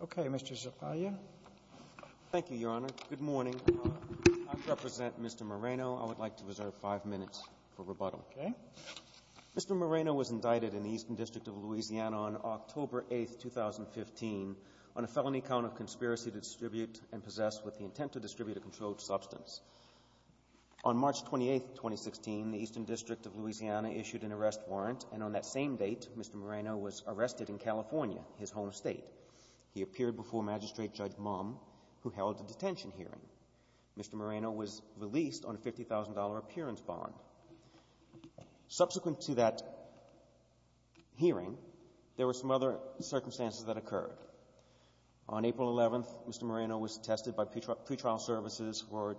Okay, Mr. Zapaglia. Thank you, Your Honor. Good morning. I represent Mr. Moreno. I would like to reserve five minutes for rebuttal. Okay. Mr. Moreno was indicted in the Eastern District of Louisiana on October 8th, 2015 on a felony count of conspiracy to distribute and possess with the intent to distribute a controlled substance. On March 28th, 2016, the Eastern District of Louisiana issued an arrest warrant, and on that same date, Mr. Moreno was arrested in California, his home state. He appeared before Magistrate Judge Mumm, who held a detention hearing. Mr. Moreno was released on a $50,000 appearance bond. Subsequent to that hearing, there were some other circumstances that occurred. On April 11th, Mr. Moreno was tested by pretrial services for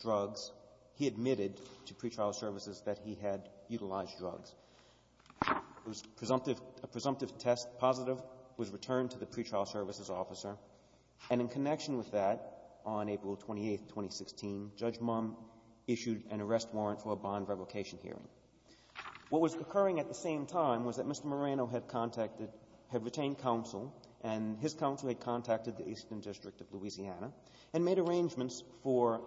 drugs. He admitted to pretrial services that he had utilized drugs. It was a presumptive test. Positive was returned to the pretrial services officer, and in connection with that, on April 28th, 2016, Judge Mumm issued an arrest warrant for a bond revocation hearing. What was occurring at the same time was that Mr. Moreno had contacted... had retained counsel, and his counsel had contacted the Eastern District of Louisiana and made arrangements for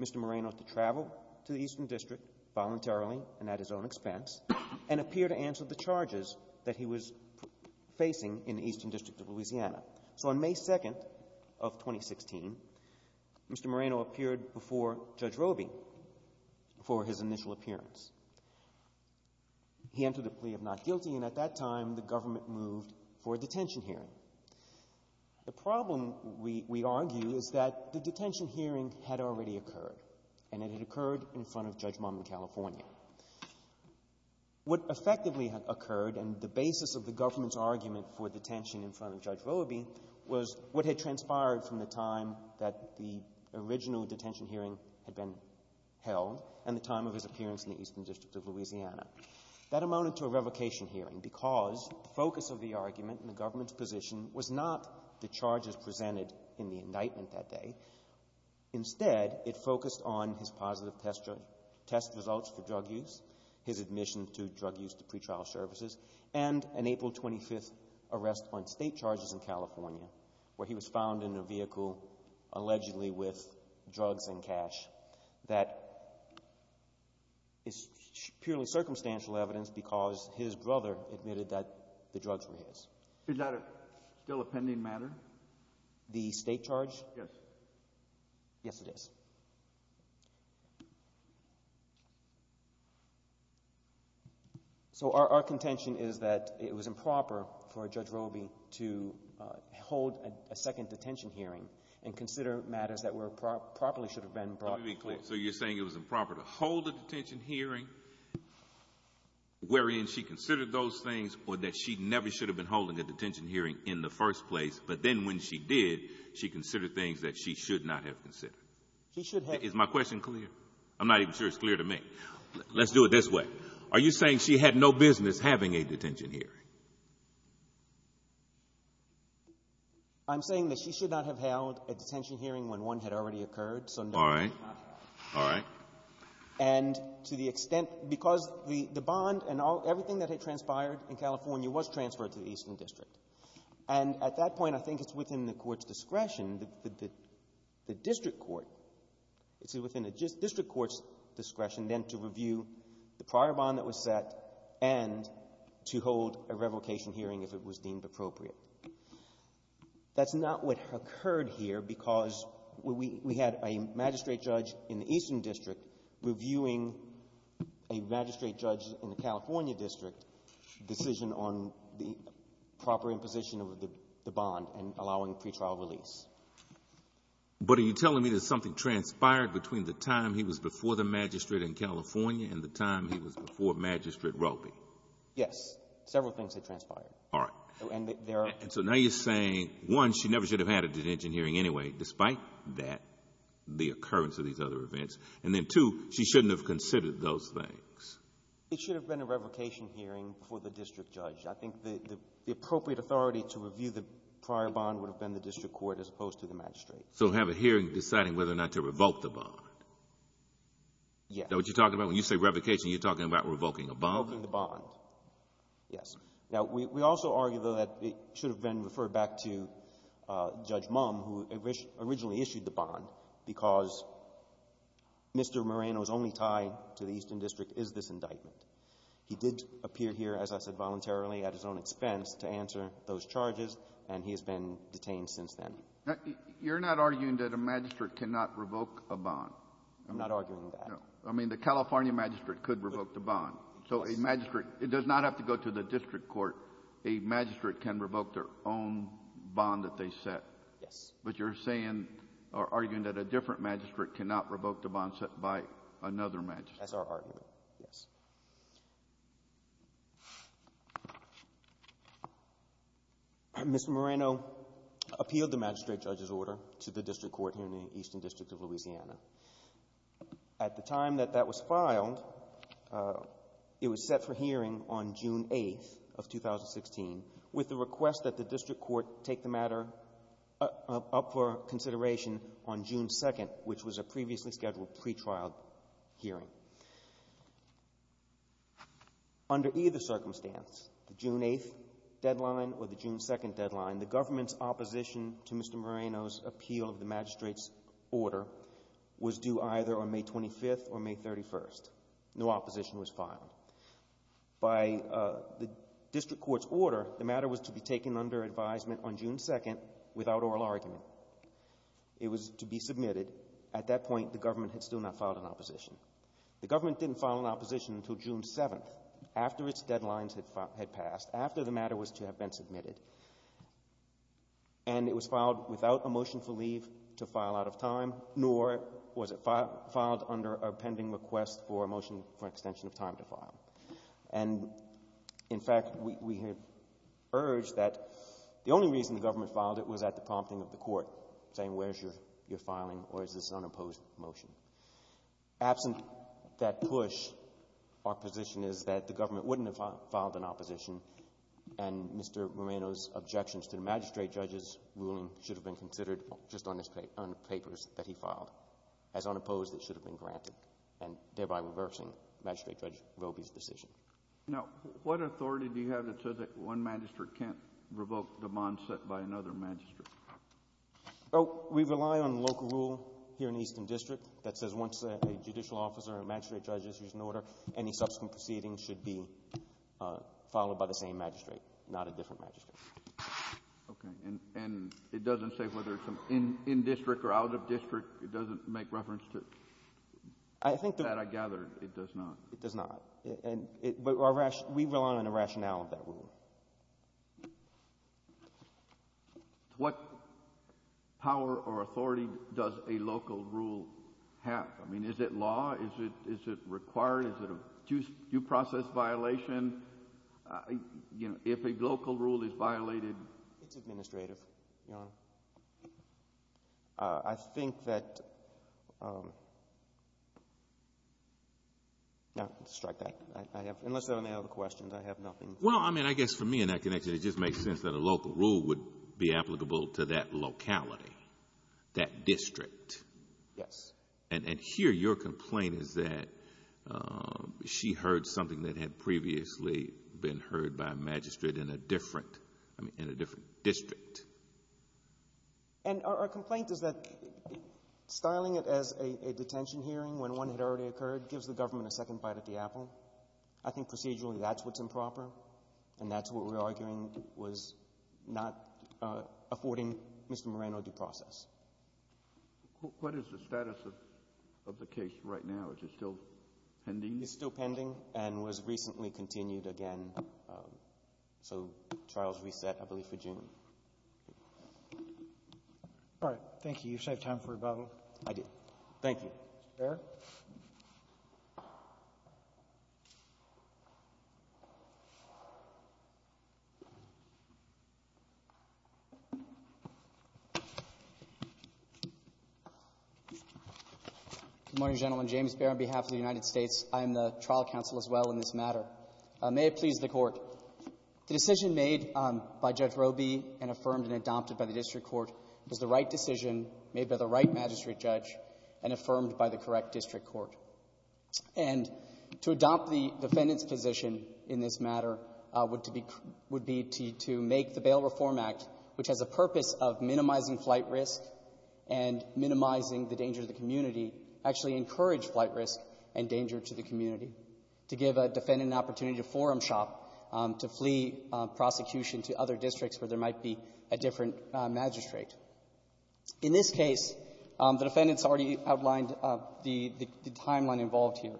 Mr. Moreno to travel to the Eastern District voluntarily and at his own expense and appear to answer the questions that he was facing in the Eastern District of Louisiana. So on May 2nd of 2016, Mr. Moreno appeared before Judge Roby for his initial appearance. He entered a plea of not guilty, and at that time, the government moved for a detention hearing. The problem, we argue, is that the detention hearing had already occurred, and it had occurred in front of Judge Mumm in California. What effectively had occurred and the basis of the government's argument for detention in front of Judge Roby was what had transpired from the time that the original detention hearing had been held and the time of his appearance in the Eastern District of Louisiana. That amounted to a revocation hearing because the focus of the argument and the government's position was not the charges presented in the indictment that day. Instead, it focused on his positive test results for drug use, his admission to drug use to pretrial services, and an April 25th arrest on state charges in California where he was found in a vehicle allegedly with drugs and cash that is purely circumstantial evidence because his brother admitted that the drugs were his. Is that still a pending matter? The state charge? Yes. Yes, it is. So, our contention is that it was improper for Judge Roby to hold a second detention hearing and consider matters that probably should have been brought before. So, you're saying it was improper to hold a detention hearing wherein she considered those things or that she never should have been holding a detention hearing in the first place, but then when she did, she considered things that she should not have considered? She should have. Is my question clear? I'm not even sure it's clear to me. Let's do it this way. Are you saying she had no business having a detention hearing? I'm saying that she should not have held a detention hearing when one had already occurred. All right. All right. And to the extent — because the bond and everything that had transpired in California was transferred to the Eastern District. And at that point, I think it's within the Court's discretion — the District Court — it's within the District Court's discretion then to review the prior bond that was set and to hold a revocation hearing if it was deemed appropriate. That's not what occurred here because we had a magistrate judge in the Eastern District reviewing a magistrate judge in the California District decision on the proper imposition of the bond and allowing pretrial release. But are you telling me that something transpired between the time he was before the magistrate in California and the time he was before Magistrate Ropey? Yes. Several things had transpired. All right. And so now you're saying, one, she never should have had a detention hearing anyway, despite that, the occurrence of these other events. And then, two, she shouldn't have considered those things. It should have been a revocation hearing before the District Judge. I think the appropriate authority to review the prior bond would have been the District Court as opposed to the magistrate. So have a hearing deciding whether or not to revoke the bond? Yes. Now, what you're talking about, when you say revocation, you're talking about revoking a bond? Revoking the bond. Yes. Now, we also argue, though, that it should have been referred back to Judge Mumm, who originally issued the bond, because Mr. Moreno's only tie to the Eastern District is this indictment. He did appear here, as I said, voluntarily at his own expense to answer those charges, and he has been detained since then. You're not arguing that a magistrate cannot revoke a bond? I'm not arguing that. No. I mean, the California magistrate could revoke the bond. So a magistrate, it does not have to go to the District Court. A magistrate can revoke their own bond that they set. Yes. But you're saying, or arguing, that a different magistrate cannot revoke the bond? Mr. Moreno appealed the magistrate judge's order to the District Court here in the Eastern District of Louisiana. At the time that that was filed, it was set for hearing on June 8th of 2016, with the request that the District Court take the matter up for consideration on June 2nd, which was a previously scheduled pretrial hearing. Under either circumstance, the June 8th deadline or the June 2nd deadline, the government's opposition to Mr. Moreno's appeal of the magistrate's order was due either on May 25th or May 31st. No opposition was filed. By the District Court's order, the matter was to be taken under advisement on June 2nd without oral argument. It was to be submitted. At that point, the government had still not filed an opposition. The government didn't file an opposition until June 7th, after its deadlines had passed, after the matter was to have been submitted. And it was filed without a motion for leave to file out of time, nor was it filed under a pending request for a motion for extension of time to file. And, in fact, we had urged that the only reason the government filed it was at the prompting of the court, saying, where's your filing or is this an unopposed motion? Absent that push, our position is that the government wouldn't have filed an opposition, and Mr. Moreno's objections to the magistrate judge's ruling should have been considered just on the papers that he filed. As unopposed, it should have been granted, and thereby reversing Magistrate Judge Roby's decision. Now, what authority do you have that says that one magistrate can't revoke the bond set by another magistrate? We rely on local rule here in the Eastern District that says once a judicial officer or a magistrate judge issues an order, any subsequent proceedings should be followed by the same magistrate, not a different magistrate. Okay. And it doesn't say whether it's in district or out of district? It doesn't make reference to that, I gather? It does not. It does not. But we rely on the rationale of that rule. What power or authority does a local rule have? I mean, is it law? Is it required? Is it a due process violation? You know, if a local rule is violated? It's administrative, Your Honor. I think that... no, strike that. Unless there are any other questions, I have nothing. Well, I mean, I guess for me in that connection, it just makes sense that a local rule would be applicable to that district. Yes. And here your complaint is that she heard something that had previously been heard by a magistrate in a different, I mean, in a different district. And our complaint is that styling it as a detention hearing when one had already occurred gives the government a second bite at the apple. I think procedurally that's what's improper, and that's what we're What is the status of the case right now? Is it still pending? It's still pending and was recently continued again. So, trial's reset, I believe, for June. All right. Thank you. Good morning, gentlemen. James Behr on behalf of the United States. I am the trial counsel as well in this matter. May it please the Court. The decision made by Judge Roby and affirmed and adopted by the district court was the right decision made by the right magistrate judge and affirmed by the correct district court. And to adopt the defendant's position in this matter would be to make the Bail Reform Act, which has a purpose of minimizing flight risk and minimizing the danger to the community, actually encourage flight risk and danger to the community, to give a defendant an opportunity to forum shop, to flee prosecution to other districts where there might be a different magistrate. In this case, the defendant has already outlined the timeline involved here.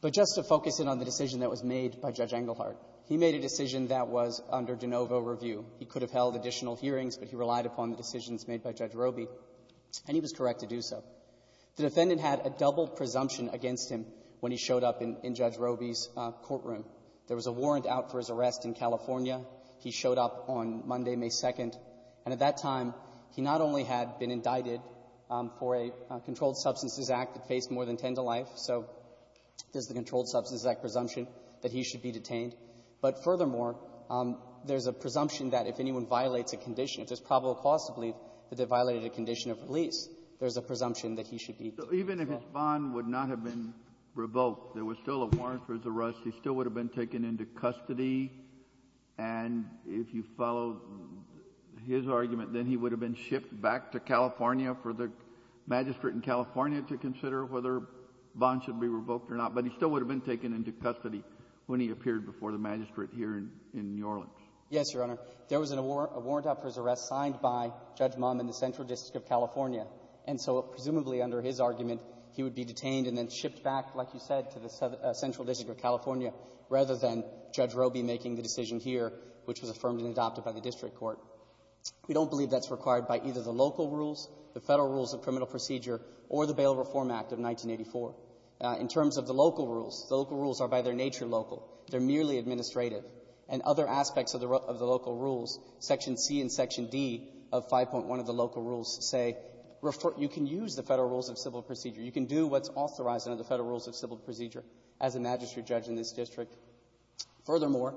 But just to focus in on the decision that was made by Judge Engelhardt, he made a decision that was under de novo review. He could have held additional hearings, but he relied upon the decisions made by Judge Roby, and he was correct to do so. The defendant had a double presumption against him when he showed up in Judge Roby's courtroom. There was a warrant out for his arrest in California. He showed up on Monday, May 2nd. And at that time, he not only had been indicted for a Controlled Substances Act that faced more than 10 to life, so there's the Controlled Substances Act presumption that he should be detained. But furthermore, there's a presumption that if anyone violates a condition, if there's probable cause to believe that they violated a condition of release, there's a presumption that he should be detained. Kennedy. So even if his bond would not have been revoked, there was still a warrant for his arrest. He still would have been taken into custody, and if you follow his argument, then he would have been shipped back to California for the magistrate in California to consider whether bonds should be revoked or not. But he still would have been taken into custody when he appeared before the magistrate here in New Orleans. Yes, Your Honor. There was a warrant out for his arrest signed by Judge Mumm in the Central District of California. And so presumably under his argument, he would be detained and then shipped back, like you said, to the Central District of California, rather than Judge Roby making the decision here, which was affirmed and adopted by the district court. We don't believe that's required by either the local rules, the Federal Rules of Criminal Procedure, or the Bail Reform Act of 1984. In terms of the local rules, the local rules are by their nature local. They're merely administrative. And other aspects of the local rules, Section C and Section D of 5.1 of the local rules say you can use the Federal Rules of Civil Procedure. You can do what's authorized under the Federal Rules of Civil Procedure as a magistrate judge in this district. Furthermore,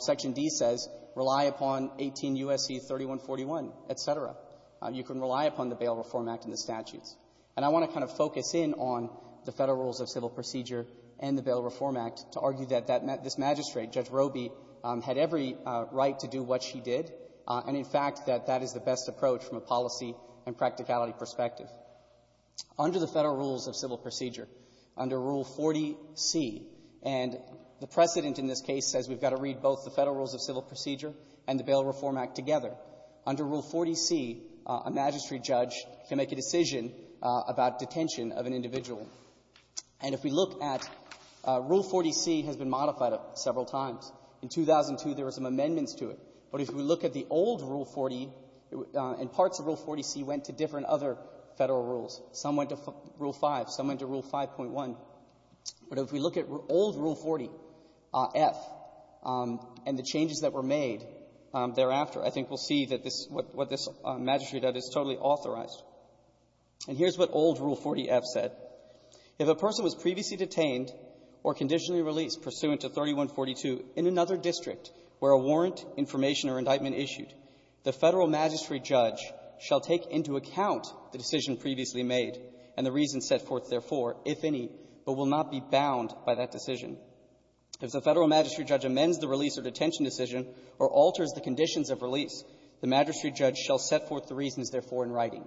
Section D says rely upon 18 U.S.C. 3141, et cetera. You can rely upon the Bail Reform Act and the statutes. And I want to kind of focus in on the Federal Rules of Civil Procedure and the Bail Reform Act to argue that this magistrate, Judge Roby, had every right to do what she did, and, in fact, that that is the best approach from a policy and practicality perspective. Under the Federal Rules of Civil Procedure, under Rule 40C, and the precedent in this case says we've got to read both the Federal Rules of Civil Procedure and the Bail Reform Act together. Under Rule 40C, a magistrate judge can make a decision And if we look at Rule 40C has been modified several times. In 2002, there were some amendments to it. But if we look at the old Rule 40, and parts of Rule 40C went to different other Federal Rules. Some went to Rule 5. Some went to Rule 5.1. But if we look at old Rule 40F and the changes that were made thereafter, I think we'll see that this what this magistrate judge is totally authorized. And here's what old Rule 40F said. If a person was previously detained or conditionally released pursuant to 3142 in another district where a warrant, information, or indictment issued, the Federal magistrate judge shall take into account the decision previously made and the reasons set forth therefore, if any, but will not be bound by that decision. If the Federal magistrate judge amends the release or detention decision or alters the conditions of release, the magistrate judge shall set forth the reasons therefore in writing.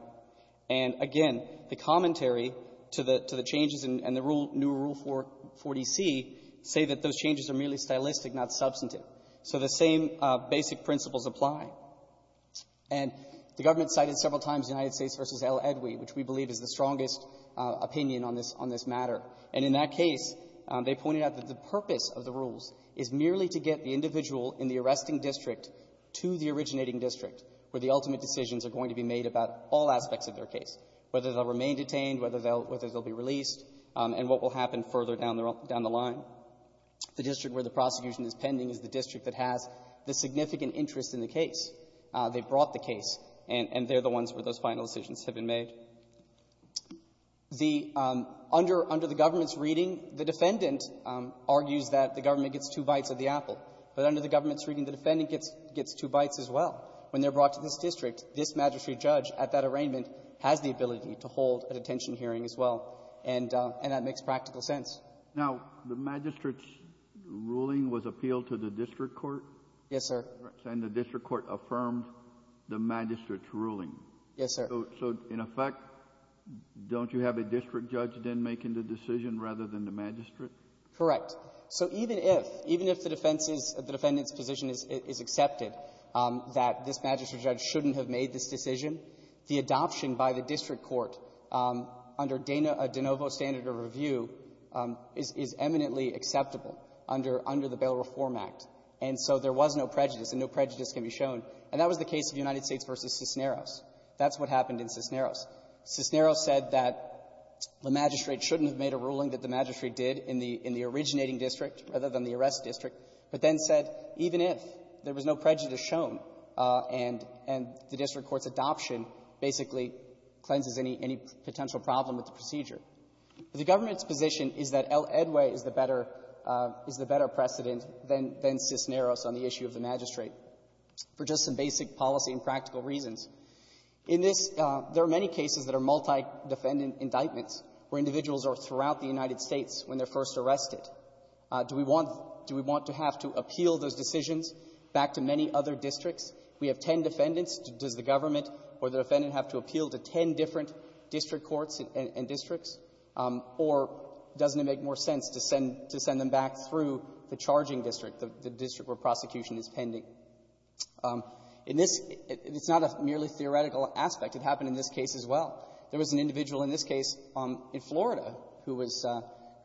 And again, the commentary to the changes in the new Rule 40C say that those changes are merely stylistic, not substantive. So the same basic principles apply. And the government cited several times United States v. L. Edwi, which we believe is the strongest opinion on this matter. And in that case, they pointed out that the purpose of the rules is merely to get the individual in the arresting district to the originating district where the ultimate decisions are going to be made about all aspects of their case, whether they'll remain detained, whether they'll be released, and what will happen further down the line. The district where the prosecution is pending is the district that has the significant interest in the case. They brought the case, and they're the ones where those final decisions have been made. The under the government's reading, the defendant argues that the government gets two bites of the apple. But under the government's reading, the defendant gets two bites as well. When they're brought to this district, this magistrate judge at that arraignment has the ability to hold a detention hearing as well. And that makes practical sense. Now, the magistrate's ruling was appealed to the district court? And the district court affirmed the magistrate's ruling? Yes, sir. So in effect, don't you have a district judge then making the decision rather than the magistrate? Correct. So even if, even if the defense's, the defendant's position is accepted that this magistrate judge shouldn't have made this decision, the adoption by the district court under De Novo's standard of review is eminently acceptable under the Bail Reform Act. And so there was no prejudice, and no prejudice can be shown. And that was the case of United States v. Cisneros. That's what happened in Cisneros. Cisneros said that the magistrate shouldn't have made a ruling that the magistrate did in the originating district rather than the arrest district, but then said even if, there was no prejudice shown, and the district court's adoption basically cleanses any potential problem with the procedure. The government's position is that El Edway is the better precedent than Cisneros on the issue of the magistrate. For just some basic policy and practical reasons, in this, there are many cases that are multi-defendant indictments where individuals are throughout the United States when they're first arrested. Do we want, do we want to have to appeal those decisions back to many other districts? We have ten defendants. Does the government or the defendant have to appeal to ten different district courts and districts? Or doesn't it make more sense to send, to send them back through the charging district, the district where prosecution is pending? In this, it's not a merely theoretical aspect. It happened in this case as well. There was an individual in this case in Florida who was,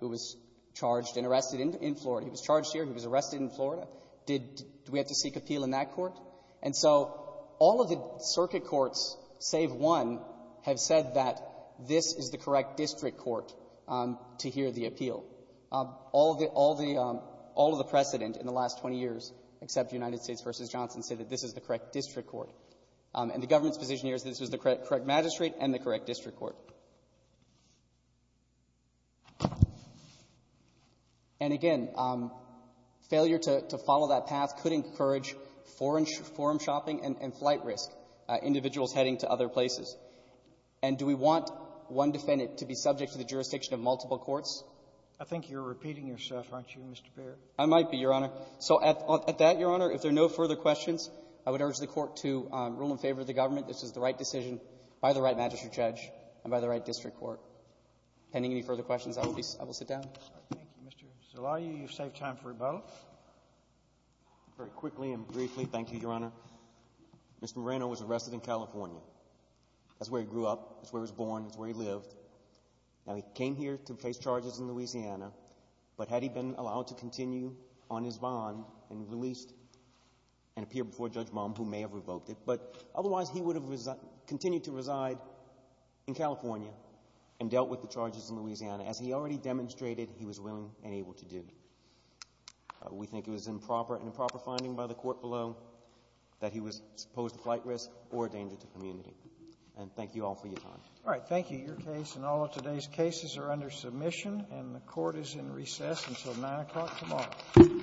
who was charged and arrested in Florida. He was charged here. He was arrested in Florida. Did we have to seek appeal in that court? And so all of the circuit courts, save one, have said that this is the correct district court to hear the appeal. All of the, all of the precedent in the last 20 years, except United States v. Johnson, say that this is the correct district court. And the government's position here is that this was the correct magistrate and the correct district court. And again, failure to follow that path could encourage forum shopping and flight risk, individuals heading to other places. And do we want one defendant to be subject to the jurisdiction of multiple courts? I think you're repeating yourself, aren't you, Mr. Baird? I might be, Your Honor. So at, at that, Your Honor, if there are no further questions, I would urge the court to rule in favor of the government. This is the right decision by the right magistrate judge and by the right district court. Pending any further questions, I will be, I will sit down. Thank you, Mr. Zelaya. You've saved time for both. Very quickly and briefly. Thank you, Your Honor. Mr. Moreno was arrested in California. That's where he grew up. That's where he was born. That's where he lived. Now he came here to face charges in Louisiana, but had he been allowed to continue on his bond and released and appear before Judge Baum, who may have revoked it, but otherwise he would have continued to reside in California and dealt with the charges in Louisiana, as he already demonstrated he was willing and able to do. We think it was an improper, an improper finding by the court below that he was supposed to flight risk or a danger to community. And thank you all for your time. All right. Thank you. Your case and all of today's cases are under submission, and the Court is in recess until 9 o'clock tomorrow.